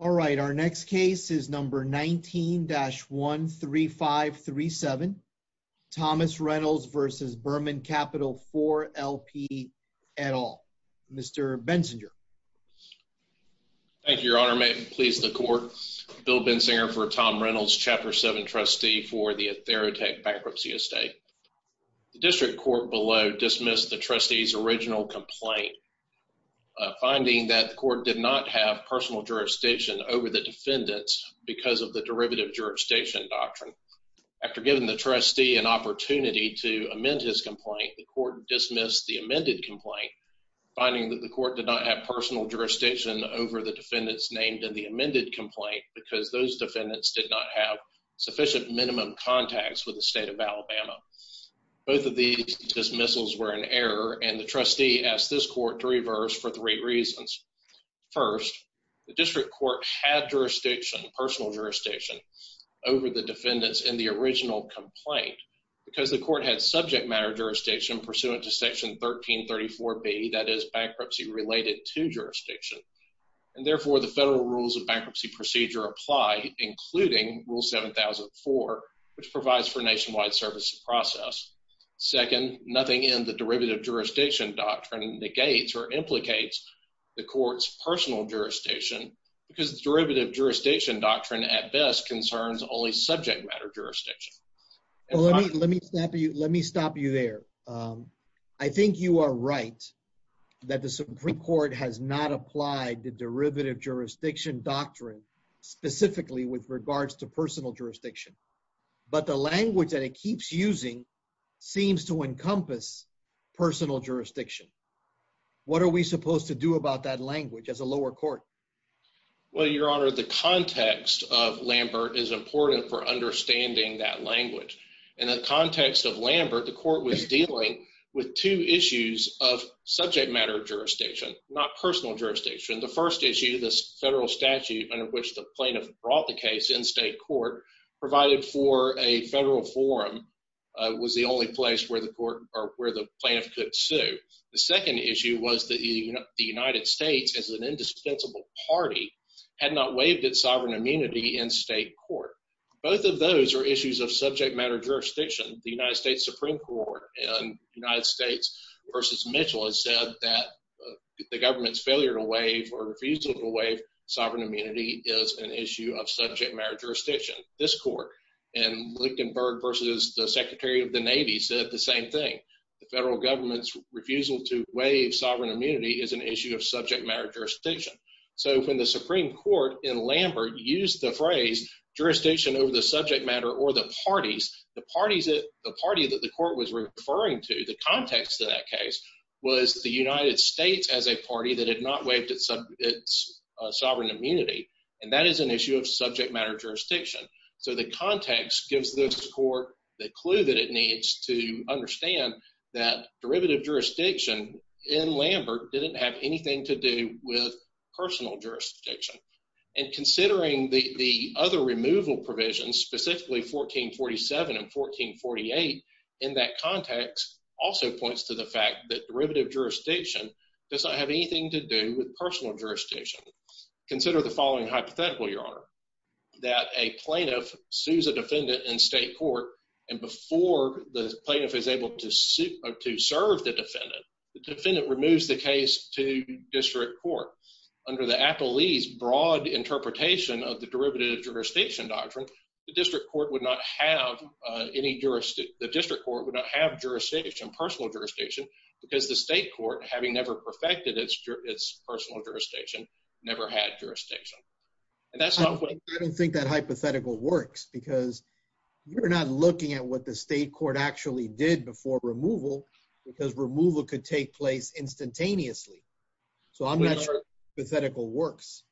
All right our next case is number 19-13537 Thomas Reynolds v. Behrman Capital IV L.P. et al. Mr. Bensinger. Thank you your honor may it please the court. Bill Bensinger for Tom Reynolds chapter 7 trustee for the aetherotech bankruptcy estate. The district court below dismissed the jurisdiction over the defendants because of the derivative jurisdiction doctrine. After giving the trustee an opportunity to amend his complaint the court dismissed the amended complaint finding that the court did not have personal jurisdiction over the defendants named in the amended complaint because those defendants did not have sufficient minimum contacts with the state of Alabama. Both of these dismissals were an error and the trustee asked this court to reverse for three reasons. First the district court had jurisdiction personal jurisdiction over the defendants in the original complaint because the court had subject matter jurisdiction pursuant to section 1334b that is bankruptcy related to jurisdiction and therefore the federal rules of bankruptcy procedure apply including rule 7004 which provides for nationwide service process. Second nothing in the derivative jurisdiction doctrine negates or implicates the court's personal jurisdiction because the derivative jurisdiction doctrine at best concerns only subject matter jurisdiction. Let me stop you there. I think you are right that the Supreme Court has not applied the derivative jurisdiction doctrine specifically with regards to personal seems to encompass personal jurisdiction. What are we supposed to do about that language as a lower court? Well your honor the context of Lambert is important for understanding that language. In the context of Lambert the court was dealing with two issues of subject matter jurisdiction not personal jurisdiction. The first issue this federal statute under which the plaintiff brought the case in state court provided for a federal forum was the only place where the court or where the plaintiff could sue. The second issue was that the United States as an indispensable party had not waived its sovereign immunity in state court. Both of those are issues of subject matter jurisdiction. The United States Supreme Court and United States versus Mitchell has said that the government's failure to waive or refusal to waive sovereign immunity is an issue of subject matter jurisdiction. This court and Lichtenberg versus the Secretary of the Navy said the same thing. The federal government's refusal to waive sovereign immunity is an issue of subject matter jurisdiction. So when the Supreme Court in Lambert used the phrase jurisdiction over the subject matter or the parties the parties that the party that the court was referring to the context of that case was the United States as a party that had not waived its sovereign immunity and that is an issue of subject matter jurisdiction. So the context gives this court the clue that it needs to understand that derivative jurisdiction in Lambert didn't have anything to do with personal jurisdiction and considering the the other removal provisions specifically 1447 and 1448 in that context also points to the fact that derivative jurisdiction does not have anything to do with personal jurisdiction. Consider the following hypothetical your honor that a plaintiff sues a defendant in state court and before the plaintiff is able to sue to serve the defendant the defendant removes the case to district court. Under the appellee's broad interpretation of the derivative jurisdiction doctrine the district court would not have any jurisdiction the district court would not have jurisdiction personal jurisdiction because the state court having never perfected its personal jurisdiction never had jurisdiction and that's not what I don't think that hypothetical works because you're not looking at what the state court actually did before removal because removal could take place instantaneously so I'm not sure hypothetical works.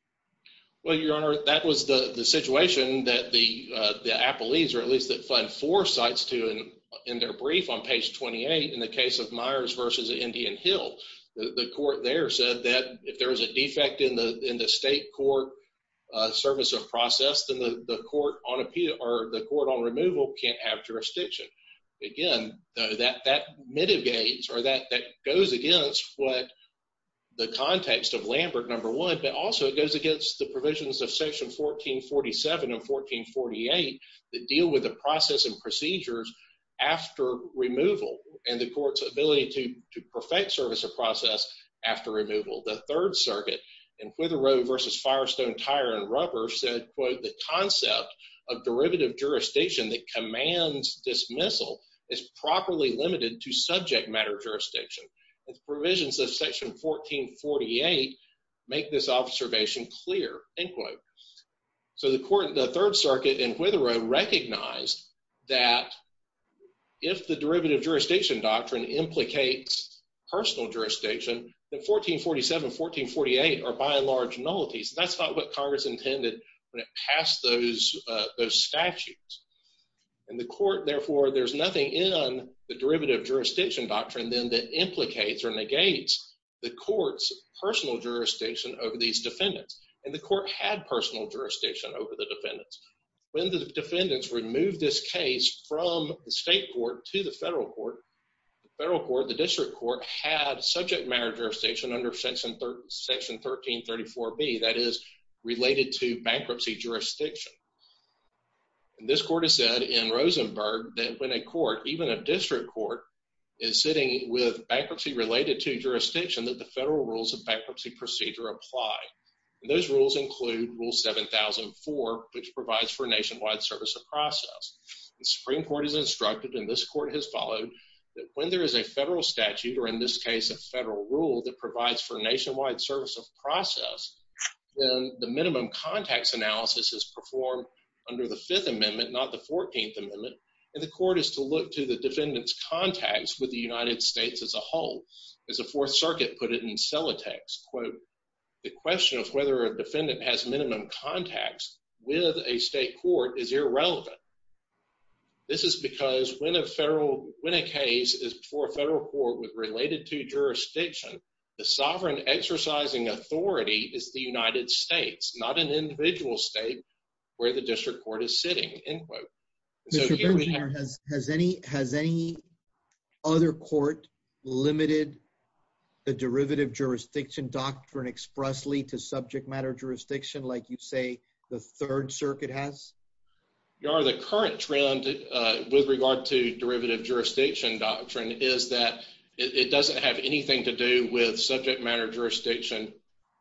Well your honor that was the the situation that the uh the appellees or at least that fund four sites to in in their brief on page 28 in the case of Myers versus Indian Hill. The court there said that if there is a defect in the in the state court uh service of process then the the court on appeal or the court on removal can't have jurisdiction. Again though that that mitigates or that that goes against what the context of Lambert number one but also it goes against the provisions of section 1447 and 1448 that deal with the process and procedures after removal and the court's ability to to perfect service a process after removal. The third circuit in Quither Road versus Firestone Tire and Rubber said quote the concept of derivative jurisdiction that commands dismissal is properly limited to of section 1448 make this observation clear end quote. So the court the third circuit in Quither Road recognized that if the derivative jurisdiction doctrine implicates personal jurisdiction then 1447 1448 are by and large nullities that's not what congress intended when it passed those uh those statutes and the court therefore there's nothing in the the court's personal jurisdiction over these defendants and the court had personal jurisdiction over the defendants when the defendants removed this case from the state court to the federal court the federal court the district court had subject matter jurisdiction under section 13 section 1334b that is related to bankruptcy jurisdiction and this court has said in Rosenberg that when a court even a district court is sitting with bankruptcy related to jurisdiction that the federal rules of bankruptcy procedure apply and those rules include rule 7004 which provides for nationwide service of process the supreme court is instructed and this court has followed that when there is a federal statute or in this case a federal rule that provides for nationwide service of process then the minimum contacts analysis is performed under the fifth amendment not the 14th amendment and the court is to look to the defendant's contacts with the united states as a whole as the fourth circuit put it in Celotex quote the question of whether a defendant has minimum contacts with a state court is irrelevant this is because when a federal when a case is before a federal court with related to jurisdiction the sovereign exercising authority is the united states not an individual state where the district court is sitting in quote has any has any other court limited the derivative jurisdiction doctrine expressly to subject matter jurisdiction like you say the third circuit has you are the current trend uh with regard to derivative jurisdiction doctrine is that it doesn't have anything to do with subject matter jurisdiction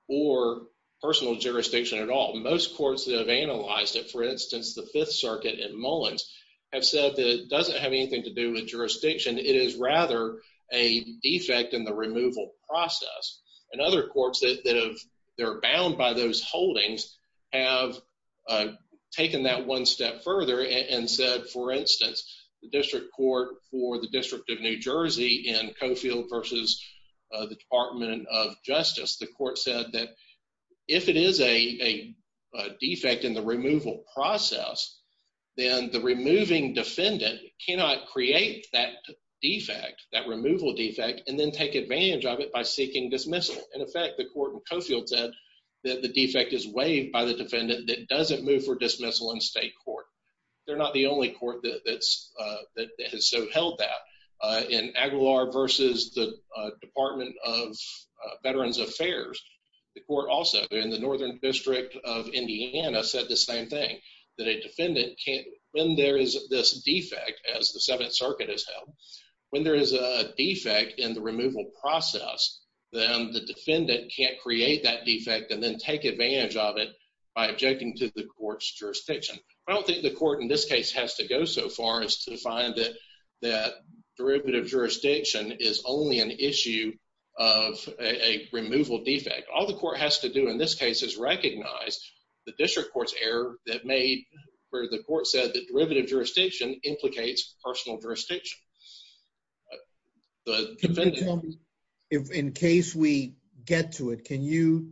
or personal jurisdiction at all most courts that have analyzed it for instance the fifth circuit and mullins have said that it doesn't have anything to do with jurisdiction it is rather a defect in the removal process and other courts that have they're bound by those holdings have taken that one step further and said for instance the district court for the district of new jersey in cofield versus the department of justice the court said that if it is a a defect in the removal process then the removing defendant cannot create that defect that removal defect and then take advantage of it by seeking dismissal in effect the court in cofield said that the defect is waived by the defendant that doesn't move for dismissal in state court they're not the only court that's uh that has so held that uh in aguilar versus the department of veterans affairs the court also in the northern district of indiana said the same thing that a defendant can't when there is this defect as the seventh circuit is held when there is a defect in the removal process then the defendant can't create that defect and then take advantage of it by objecting to the court's jurisdiction i don't think the court in this case has to go so far as to find that that derivative jurisdiction is only an issue of a removal defect all the court has to do in this case is recognize the district court's error that made where the court said that derivative jurisdiction implicates personal jurisdiction the defendant if in case we get to it can you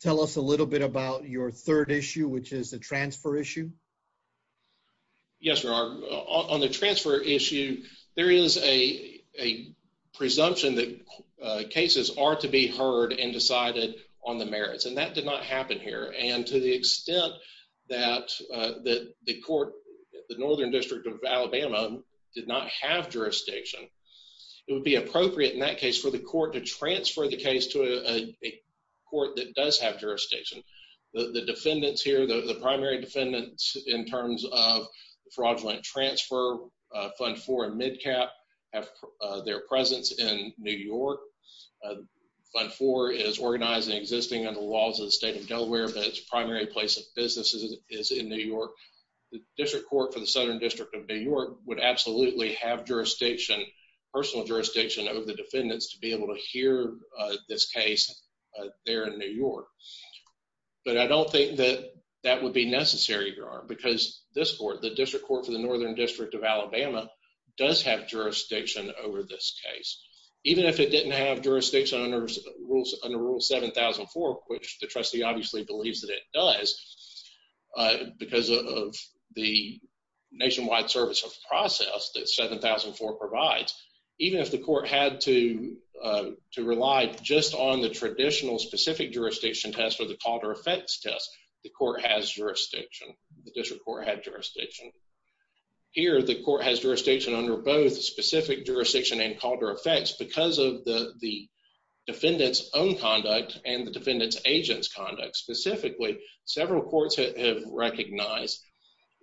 tell us a little bit about your third issue which is the transfer issue yes on the transfer issue there is a a presumption that cases are to be heard and decided on the merits and that did not happen here and to the extent that uh that the court the northern district of alabama did not have jurisdiction it would be appropriate in that case for the court to transfer the case to a court that does have jurisdiction the defendants here the primary defendants in terms of fraudulent transfer uh fund four and midcap have their presence in new york fund four is organized and existing under the laws of the state of delaware but its primary place of business is in new york the district court for the southern district of new york would absolutely have jurisdiction personal jurisdiction over the defendants to be able to hear uh this case uh there in new york but i don't think that that would be necessary your arm because this court the district court for the northern district of alabama does have jurisdiction over this case even if it didn't have jurisdiction under rules under rule 7004 which the trustee that 7004 provides even if the court had to uh to rely just on the traditional specific jurisdiction test for the calder effects test the court has jurisdiction the district court had jurisdiction here the court has jurisdiction under both specific jurisdiction and calder effects because of the the defendant's own conduct and the defendant's agent's conduct specifically several courts have recognized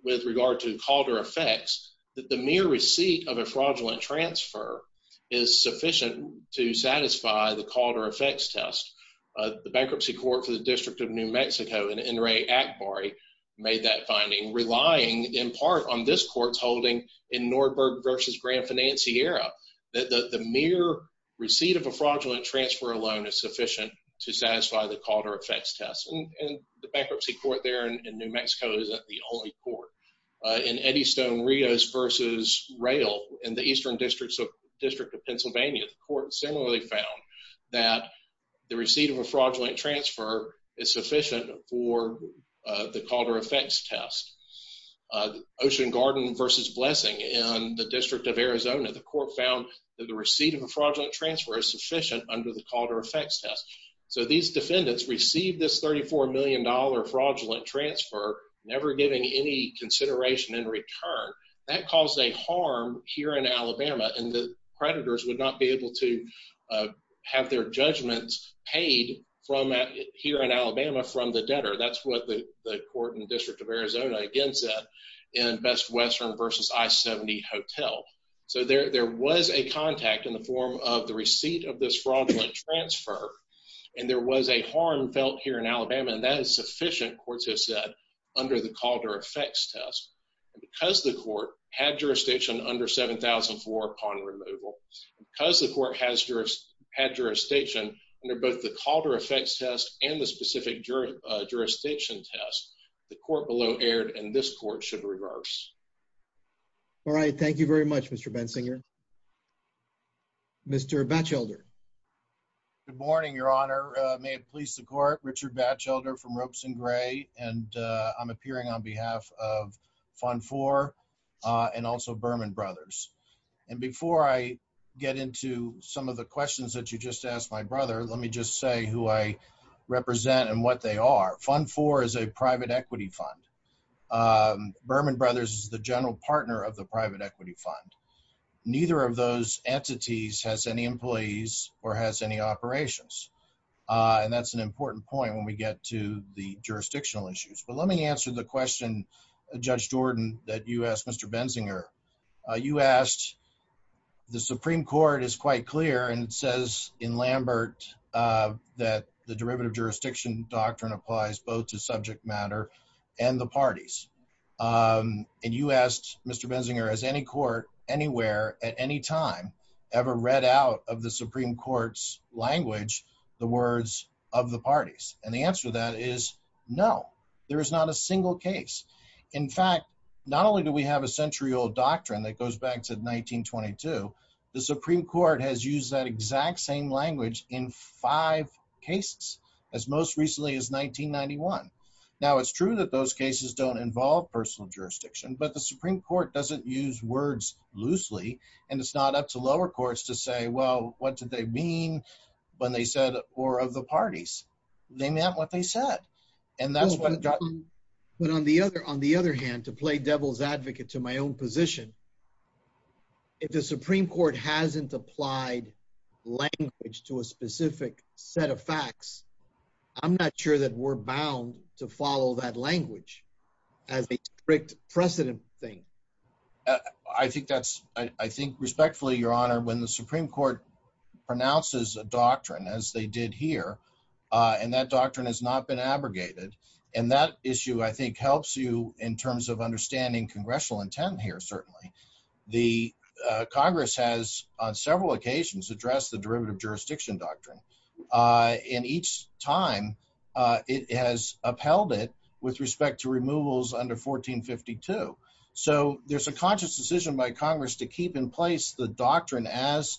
with regard to calder effects that the mere receipt of a fraudulent transfer is sufficient to satisfy the calder effects test uh the bankruptcy court for the district of new mexico and nra akbari made that finding relying in part on this court's holding in nordberg versus grand financiera that the the mere receipt of a fraudulent transfer alone is bankruptcy court there in new mexico is that the only court uh in eddie stone rios versus rail in the eastern districts of district of pennsylvania the court similarly found that the receipt of a fraudulent transfer is sufficient for uh the calder effects test uh ocean garden versus blessing in the district of arizona the court found that the receipt of a fraudulent transfer is sufficient under the calder effects test so these defendants received this 34 million dollar fraudulent transfer never giving any consideration in return that caused a harm here in alabama and the predators would not be able to have their judgments paid from at here in alabama from the debtor that's what the the court in the district of arizona against that in best western versus i-70 hotel so there there was a contact in the form of the receipt of this fraudulent transfer and there was a harm felt here in alabama and that is sufficient courts have said under the calder effects test because the court had jurisdiction under 7,004 upon removal because the court has jurors had jurisdiction under both the calder effects test and the specific jurisdiction test the court below aired and this court should reverse all right thank you very much mr bensinger mr batchelder good morning your honor uh may it please the court richard batchelder from ropes and gray and uh i'm appearing on behalf of fund four uh and also berman brothers and before i get into some of the questions that you just asked my brother let me just say who i represent and what they are fund four is a private equity fund um berman brothers is the general partner of the private equity fund neither of those entities has any employees or has any operations uh and that's an important point when we get to the jurisdictional issues but let me answer the question judge jordan that you asked mr bensinger uh you asked the supreme court is quite clear and it says in lambert uh that the derivative jurisdiction doctrine applies both to subject matter and the parties um and you asked mr benzinger as any court anywhere at any time ever read out of the supreme court's language the words of the parties and the answer that is no there is not a single case in fact not only do we have a century-old doctrine that goes back to 1922 the supreme court has used that exact same language in five cases as most recently as 1991 now it's true that those cases don't involve personal jurisdiction but the supreme court doesn't use words loosely and it's not up to lower courts to say well what did they mean when they said or of the parties they meant what they said and that's what it got but on the other on the other hand to play devil's advocate to my own position if the supreme court hasn't applied language to a specific set of facts i'm not sure that we're bound to follow that language as a strict precedent thing i think that's i i think respectfully your honor when the supreme court pronounces a doctrine as they did here uh and that doctrine has not been abrogated and that issue i think helps you in terms of understanding congressional intent here certainly the congress has on several occasions addressed the derivative jurisdiction doctrine in each time it has upheld it with respect to removals under 1452 so there's a conscious decision by congress to keep in place the doctrine as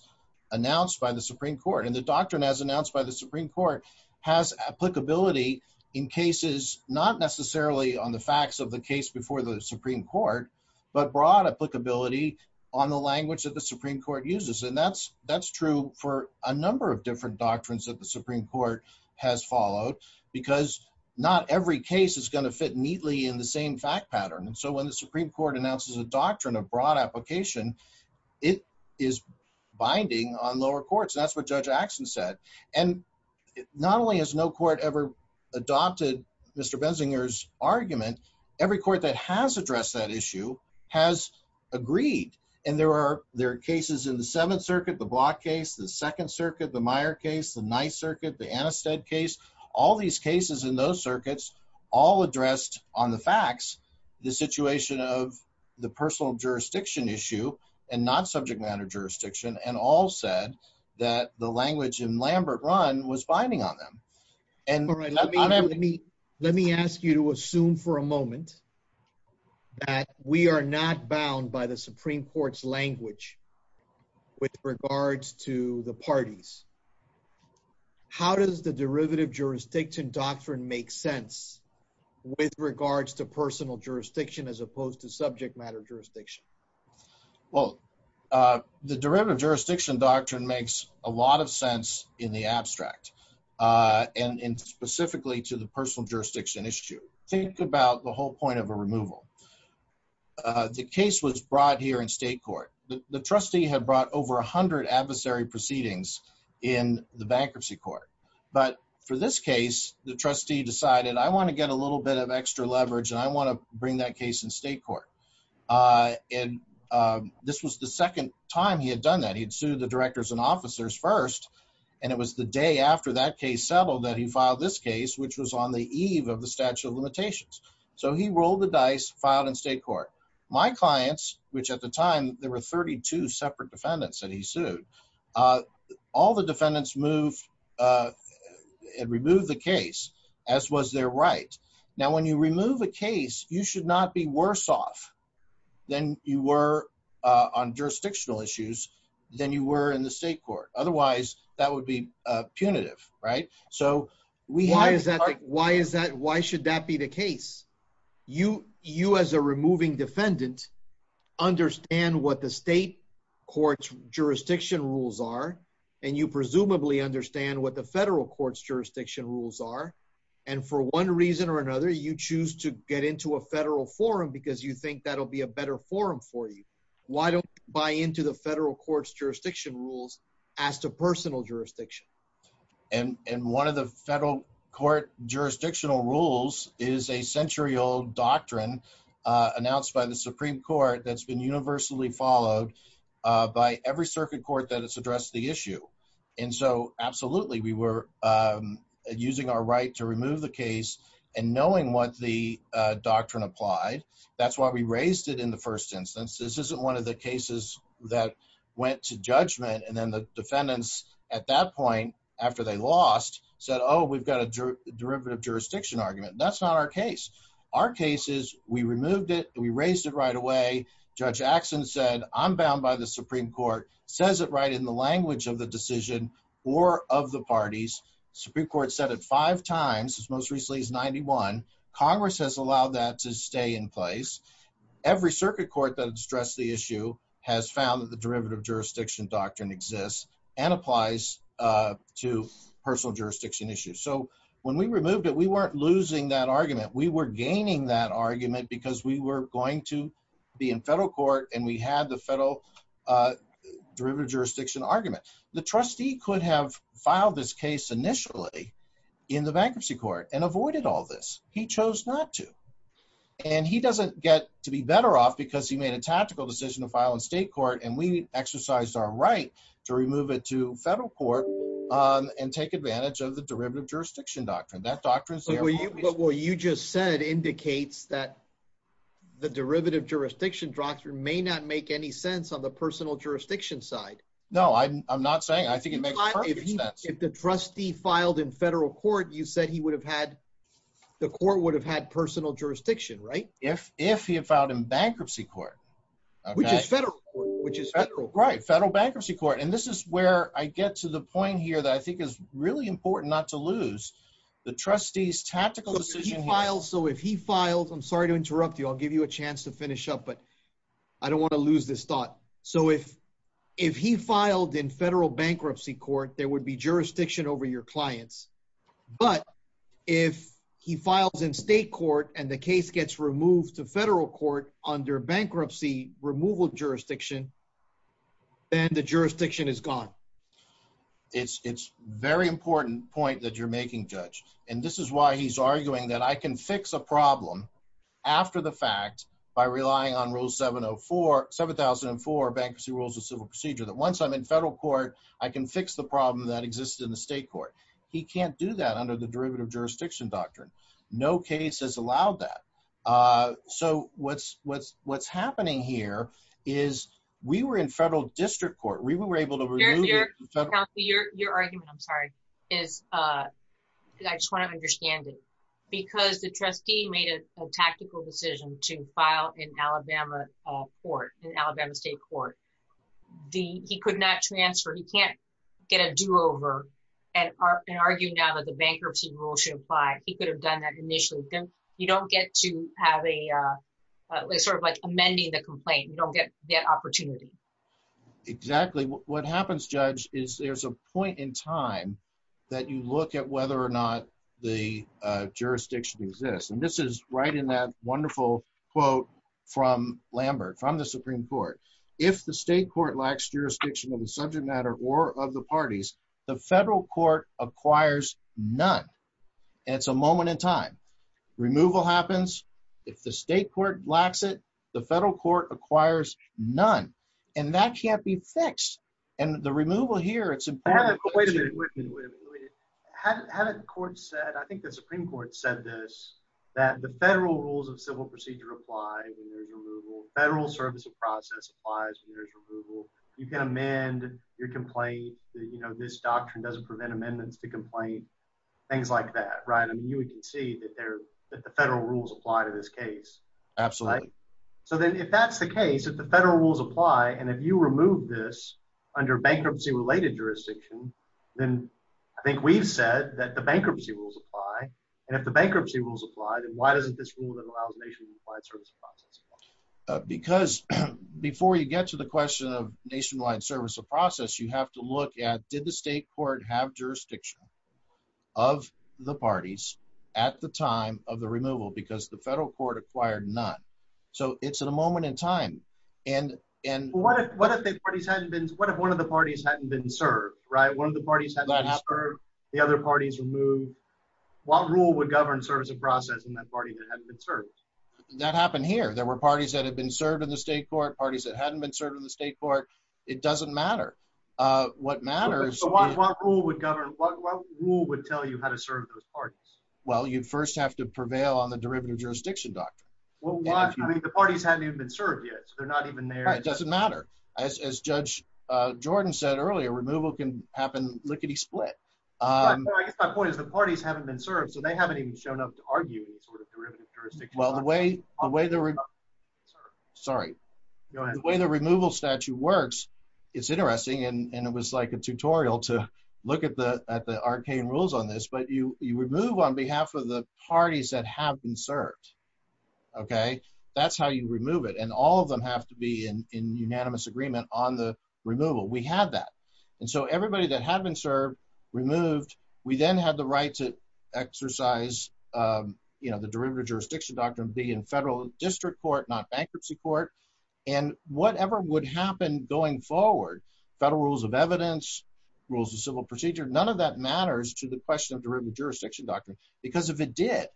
announced by the supreme court and the doctrine as announced by the supreme court has applicability in cases not necessarily on the facts of the case before the supreme court but broad applicability on the language that the supreme court uses and that's that's true for a number of different doctrines that the supreme court has followed because not every case is going to fit neatly in the same fact pattern and so when the supreme court announces a doctrine of broad application it is binding on lower courts that's what judge has addressed that issue has agreed and there are there are cases in the seventh circuit the block case the second circuit the meyer case the nice circuit the annistead case all these cases in those circuits all addressed on the facts the situation of the personal jurisdiction issue and not subject matter jurisdiction and all said that the language was binding on them and all right let me let me ask you to assume for a moment that we are not bound by the supreme court's language with regards to the parties how does the derivative jurisdiction doctrine make sense with regards to personal jurisdiction as opposed to subject matter jurisdiction well uh the derivative jurisdiction doctrine makes a lot of sense in the abstract uh and and specifically to the personal jurisdiction issue think about the whole point of a removal uh the case was brought here in state court the trustee had brought over 100 adversary proceedings in the bankruptcy court but for this case the trustee decided i want to get a little bit of extra leverage and i want to bring that case in state court uh and uh this was the second time he had done that he'd sued the directors and officers first and it was the day after that case settled that he filed this case which was on the eve of the statute of limitations so he rolled the dice filed in state court my clients which at the time there were 32 separate defendants that he sued uh all the defendants moved uh and removed the case as was their right now when you remove a case you should not be worse off than you were uh on jurisdictional issues than you were in the state court otherwise that would be uh punitive right so why is that why is that why should that be the case you you as a removing defendant understand what the state court's jurisdiction rules are and you presumably understand what the federal court's jurisdiction rules are and for one reason or another you choose to get into a federal forum because you think that'll be a better forum for you why don't you buy into the federal court's jurisdiction rules as to personal jurisdiction and and one of the federal court jurisdictional rules is a century-old doctrine uh announced by the supreme court that's been universally followed uh by every circuit court that has addressed the issue and so absolutely we were um using our right to remove the case and knowing what the uh doctrine applied that's why we raised it in the first instance this isn't one of the cases that went to judgment and then the defendants at that point after they lost said oh we've got a derivative jurisdiction argument that's not our case our case is we removed it we raised it right away judge axon said i'm bound by the supreme court said it five times as most recently as 91 congress has allowed that to stay in place every circuit court that stressed the issue has found that the derivative jurisdiction doctrine exists and applies uh to personal jurisdiction issues so when we removed it we weren't losing that argument we were gaining that argument because we were going to be in federal court and we had the federal uh derivative jurisdiction argument the trustee could have filed this case initially in the bankruptcy court and avoided all this he chose not to and he doesn't get to be better off because he made a tactical decision to file in state court and we exercised our right to remove it to federal court um and take advantage of the derivative jurisdiction doctrine that doctrine well you just said indicates that the derivative jurisdiction doctrine may not make any sense on the personal jurisdiction side no i'm not saying i think it makes sense if the trustee filed in federal court you said he would have had the court would have had personal jurisdiction right if if he had filed in bankruptcy court which is federal which is federal right federal bankruptcy court and this is where i get to the point here that i think is really important not to lose the trustee's tactical decision files so if he files i'm a chance to finish up but i don't want to lose this thought so if if he filed in federal bankruptcy court there would be jurisdiction over your clients but if he files in state court and the case gets removed to federal court under bankruptcy removal jurisdiction then the jurisdiction is gone it's it's very important point that you're making judge and this is why he's arguing that i can fix a problem after the fact by relying on rule 704 bankruptcy rules of civil procedure that once i'm in federal court i can fix the problem that exists in the state court he can't do that under the derivative jurisdiction doctrine no case has allowed that uh so what's what's what's happening here is we were in federal district court we were able to your your argument i'm sorry is uh i just want to understand it because the trustee made a tactical decision to file in alabama uh court in alabama state court the he could not transfer he can't get a do-over and argue now that the bankruptcy rule should apply he could have done that initially then you don't get to have a uh sort of like amending the complaint you don't get that opportunity exactly what happens judge is there's a point in time that you look at whether or not the jurisdiction exists and this is right in that wonderful quote from lambert from the supreme court if the state court lacks jurisdiction of the subject matter or of the parties the federal court acquires none it's a moment in time removal happens if the state court lacks it the federal court acquires none and that can't be fixed and the removal here it's important haven't the court said i think the supreme court said this that the federal rules of civil procedure apply when there's removal federal service of process applies when there's removal you can amend your complaint you know this doctrine doesn't prevent amendments to complain things like that right i mean you would concede that there that the federal rules apply to this absolutely so then if that's the case if the federal rules apply and if you remove this under bankruptcy related jurisdiction then i think we've said that the bankruptcy rules apply and if the bankruptcy rules apply then why doesn't this rule that allows nationwide service because before you get to the question of nationwide service of process you have to look at did the state court have jurisdiction of the parties at the time of the removal because the court acquired none so it's at a moment in time and and what if what if the parties hadn't been what if one of the parties hadn't been served right one of the parties that remember the other parties were moved what rule would govern services of process in that party that hadn't been served that happened here there were parties that have been served in the state court parties that hadn't been served in the state court it doesn't matter uh what matters so what rule would govern what what rule would tell you how to serve those parties well you first have to prevail on the derivative jurisdiction doctrine well watch i mean the parties haven't even been served yet so they're not even there it doesn't matter as judge uh jordan said earlier removal can happen lickety split um i guess my point is the parties haven't been served so they haven't even shown up to argue any sort of derivative jurisdiction well the way the way the sorry the way the removal statute works it's interesting and and it was like a tutorial to look at the at the arcane rules on this but you you remove on behalf of the parties that have been served okay that's how you remove it and all of them have to be in in unanimous agreement on the removal we had that and so everybody that had been served removed we then had the right to exercise um you know the derivative jurisdiction doctrine be in federal district court not bankruptcy court and whatever would happen going forward federal rules of evidence rules of civil procedure none of that matters to the because if it did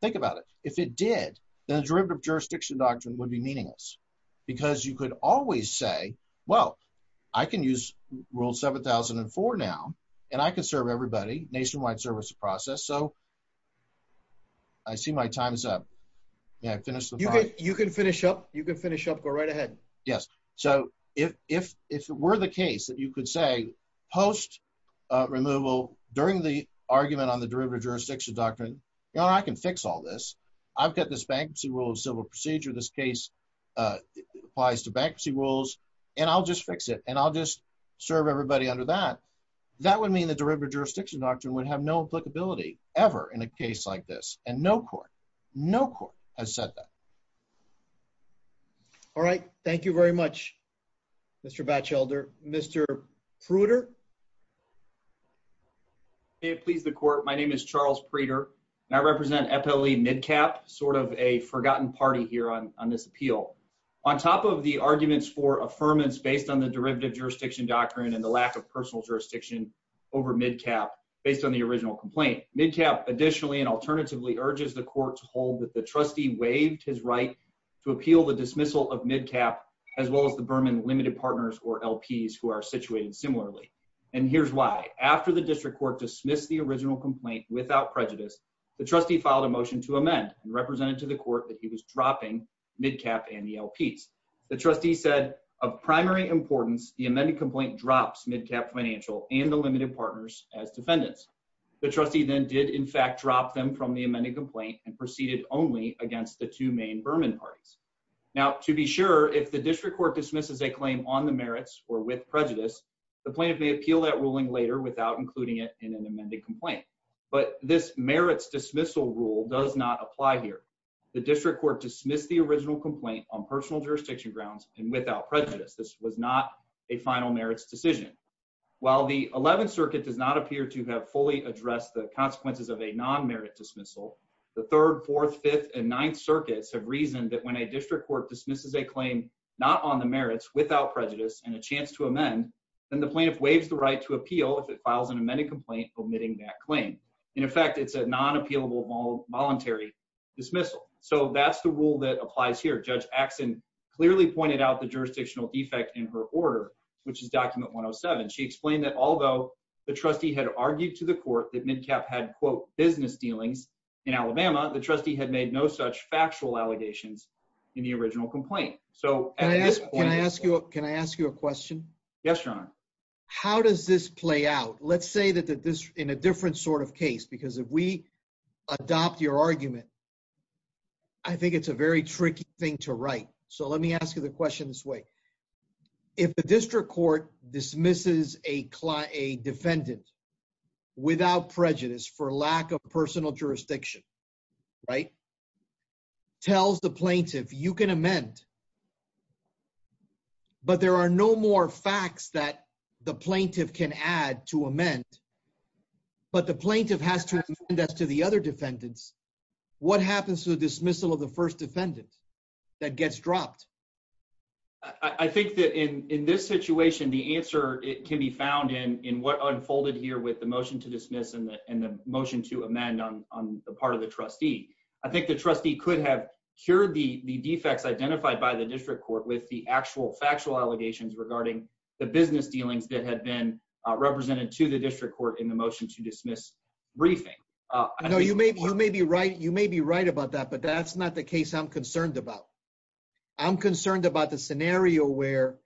think about it if it did then the derivative jurisdiction doctrine would be meaningless because you could always say well i can use rule 7004 now and i can serve everybody nationwide service process so i see my time is up yeah i finished you can you can finish up you can finish up go right ahead yes so if if if it were the case that you could say post removal during the argument on the derivative jurisdiction doctrine you know i can fix all this i've got this bankruptcy rule of civil procedure this case uh applies to bankruptcy rules and i'll just fix it and i'll just serve everybody under that that would mean the derivative jurisdiction doctrine would have no applicability ever in a case like this and no court no court has said that all right thank you very much Mr. Batchelder Mr. Pruder may it please the court my name is Charles Prader and i represent FLE MidCap sort of a forgotten party here on on this appeal on top of the arguments for affirmance based on the derivative jurisdiction doctrine and the lack of personal jurisdiction over MidCap based on the original complaint MidCap additionally and alternatively urges the court to hold that the trustee waived his right to appeal the dismissal of MidCap as well as the Berman limited partners or LPs who are situated similarly and here's why after the district court dismissed the original complaint without prejudice the trustee filed a motion to amend and represented to the court that he was dropping MidCap and the LPs the trustee said of primary importance the amended complaint drops MidCap financial and the limited partners as defendants the trustee then did in fact drop them from the amended complaint and proceeded only against the two main Berman parties now to be sure if the district court dismisses a claim on the merits or with prejudice the plaintiff may appeal that ruling later without including it in an amended complaint but this merits dismissal rule does not apply here the district court dismissed the original complaint on personal jurisdiction grounds and without prejudice this was not a final merits decision while the 11th circuit does not appear to have fully addressed the consequences of a non-merit dismissal the 3rd 4th 5th and 9th circuits have reasoned that when a district court dismisses a claim not on the merits without prejudice and a chance to amend then the plaintiff waives the right to appeal if it files an amended complaint omitting that claim in effect it's a non-appealable voluntary dismissal so that's the rule that applies here judge axon clearly pointed out the jurisdictional defect in her order which is document 107 she explained that although the trustee had argued to the court that midcap had quote business dealings in alabama the trustee had made no such factual allegations in the original complaint so can i ask you can i ask you a question yes your honor how does this play out let's say that this in a different sort of case because if we adopt your argument i think it's a very tricky thing to write so let me ask you the question this way if the district court dismisses a client a defendant without prejudice for lack of personal jurisdiction right tells the plaintiff you can amend but there are no more facts that the plaintiff can add to amend but the plaintiff has to amend as to the other defendants what happens to the dismissal of the first defendant that gets dropped i think that in in this situation the answer it can be found in in what unfolded here with the motion to dismiss and the motion to amend on on the part of the trustee i think the trustee could have cured the the defects identified by the district court with the actual factual allegations regarding the business dealings that had been represented to the district court in the motion to dismiss briefing uh no you may you may be right you about i'm concerned about the scenario where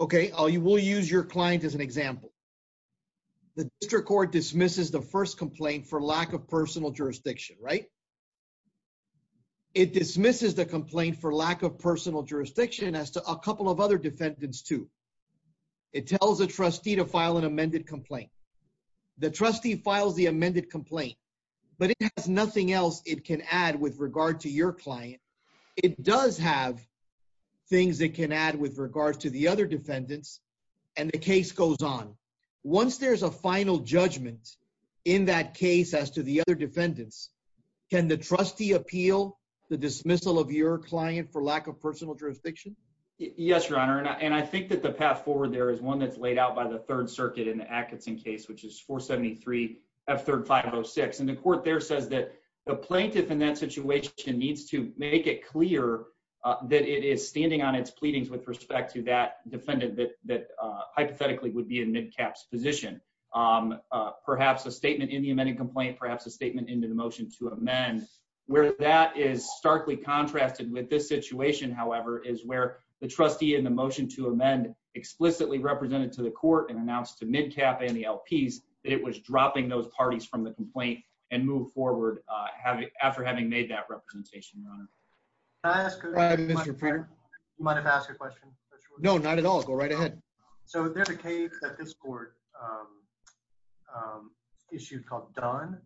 okay i'll you will use your client as an example the district court dismisses the first complaint for lack of personal jurisdiction right it dismisses the complaint for lack of personal jurisdiction as to a couple of other defendants too it tells the trustee to file an amended complaint the trustee files the amended complaint but it has nothing else it can add with regard to your client it does have things that can add with regard to the other defendants and the case goes on once there's a final judgment in that case as to the other defendants can the trustee appeal the dismissal of your client for lack of personal jurisdiction yes your honor and i think that the path forward there is one that's 473 f third 506 and the court there says that the plaintiff in that situation needs to make it clear that it is standing on its pleadings with respect to that defendant that that uh hypothetically would be in mid-caps position um perhaps a statement in the amended complaint perhaps a statement into the motion to amend where that is starkly contrasted with this situation however is where the trustee in the motion to amend explicitly represented to the court and announced to mid-cap and the lps that it was dropping those parties from the complaint and move forward uh having after having made that representation your honor can i ask you might have asked a question no not at all go right ahead so there's a case that this court um um issued called done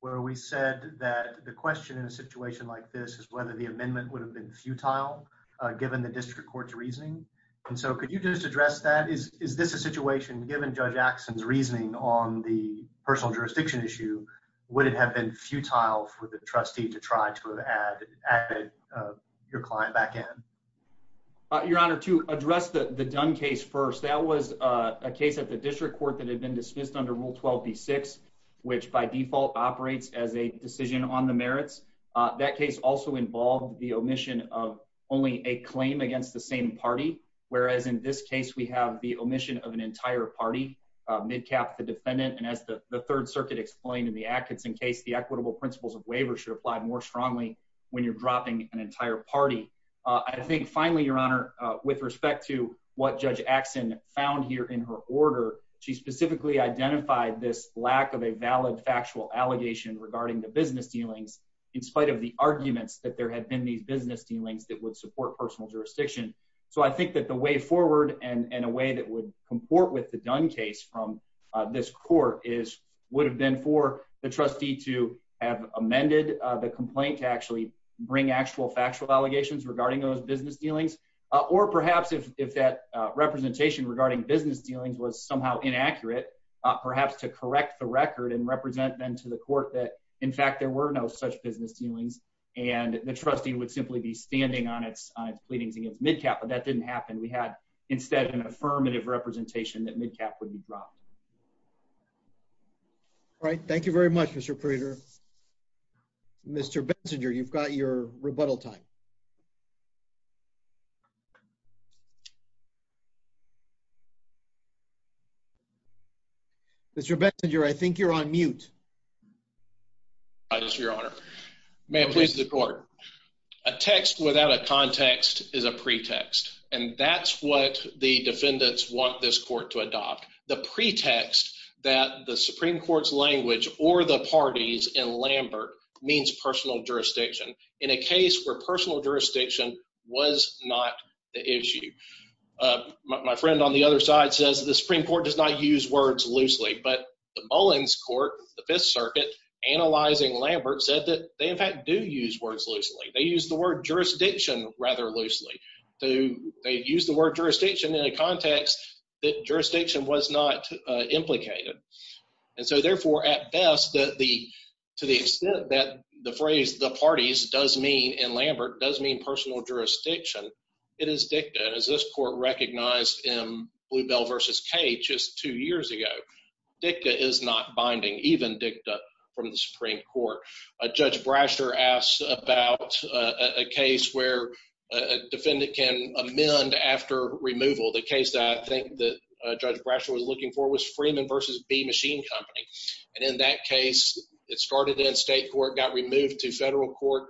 where we said that the question in a situation like this is whether the amendment would have been futile uh given the district court's reasoning and so could you just address that is this a situation given judge axon's reasoning on the personal jurisdiction issue would it have been futile for the trustee to try to add add your client back in your honor to address the done case first that was a case at the district court that had been dismissed under rule 12b6 which by default operates as a decision on the merits that case also involved the omission of only a claim against the same party whereas in this case we have the omission of an entire party mid-cap the defendant and as the third circuit explained in the atkinson case the equitable principles of waiver should apply more strongly when you're dropping an entire party i think finally your honor with respect to what judge axon found here in her order she specifically identified this lack of a valid factual allegation regarding the business dealings in spite of the support personal jurisdiction so i think that the way forward and and a way that would comport with the done case from uh this court is would have been for the trustee to have amended the complaint to actually bring actual factual allegations regarding those business dealings or perhaps if if that representation regarding business dealings was somehow inaccurate perhaps to correct the record and represent them to the court that in fact there were no such business dealings and the trustee would simply be standing on its on its pleadings against mid-cap but that didn't happen we had instead an affirmative representation that mid-cap would be dropped all right thank you very much mr praetor mr bensinger you've got your rebuttal time mr bensinger i think you're on mute i just your honor may it please the court a text without a context is a pretext and that's what the defendants want this court to adopt the pretext that the supreme court's language or the parties in lambert means personal jurisdiction in a case where personal jurisdiction was not the issue my friend on the other side says the supreme court does not use words loosely but the mullins court the fifth circuit analyzing lambert said that they in fact do use words loosely they use the word jurisdiction rather loosely to they use the word jurisdiction in a to the extent that the phrase the parties does mean in lambert does mean personal jurisdiction it is dicta as this court recognized in bluebell versus k just two years ago dicta is not binding even dicta from the supreme court a judge brasher asks about a case where a defendant can amend after removal the case that i think that judge brasher was looking for was freeman versus b machine and in that case it started in state court got removed to federal court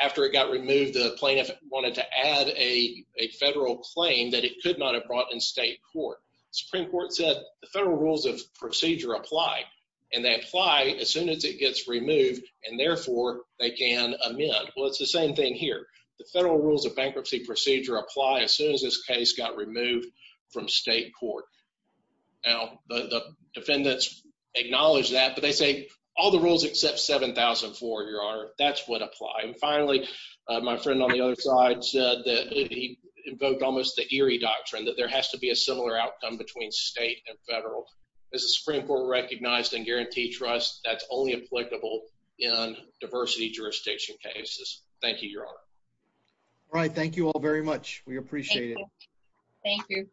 after it got removed the plaintiff wanted to add a a federal claim that it could not have brought in state court supreme court said the federal rules of procedure apply and they apply as soon as it gets removed and therefore they can amend well it's the same thing here the federal rules of bankruptcy apply as soon as this case got removed from state court now the defendants acknowledge that but they say all the rules except 7004 your honor that's what apply and finally my friend on the other side said that he invoked almost the eerie doctrine that there has to be a similar outcome between state and federal as the supreme court recognized and guaranteed trust that's only in diversity jurisdiction cases thank you your honor all right thank you all very much we appreciate thank you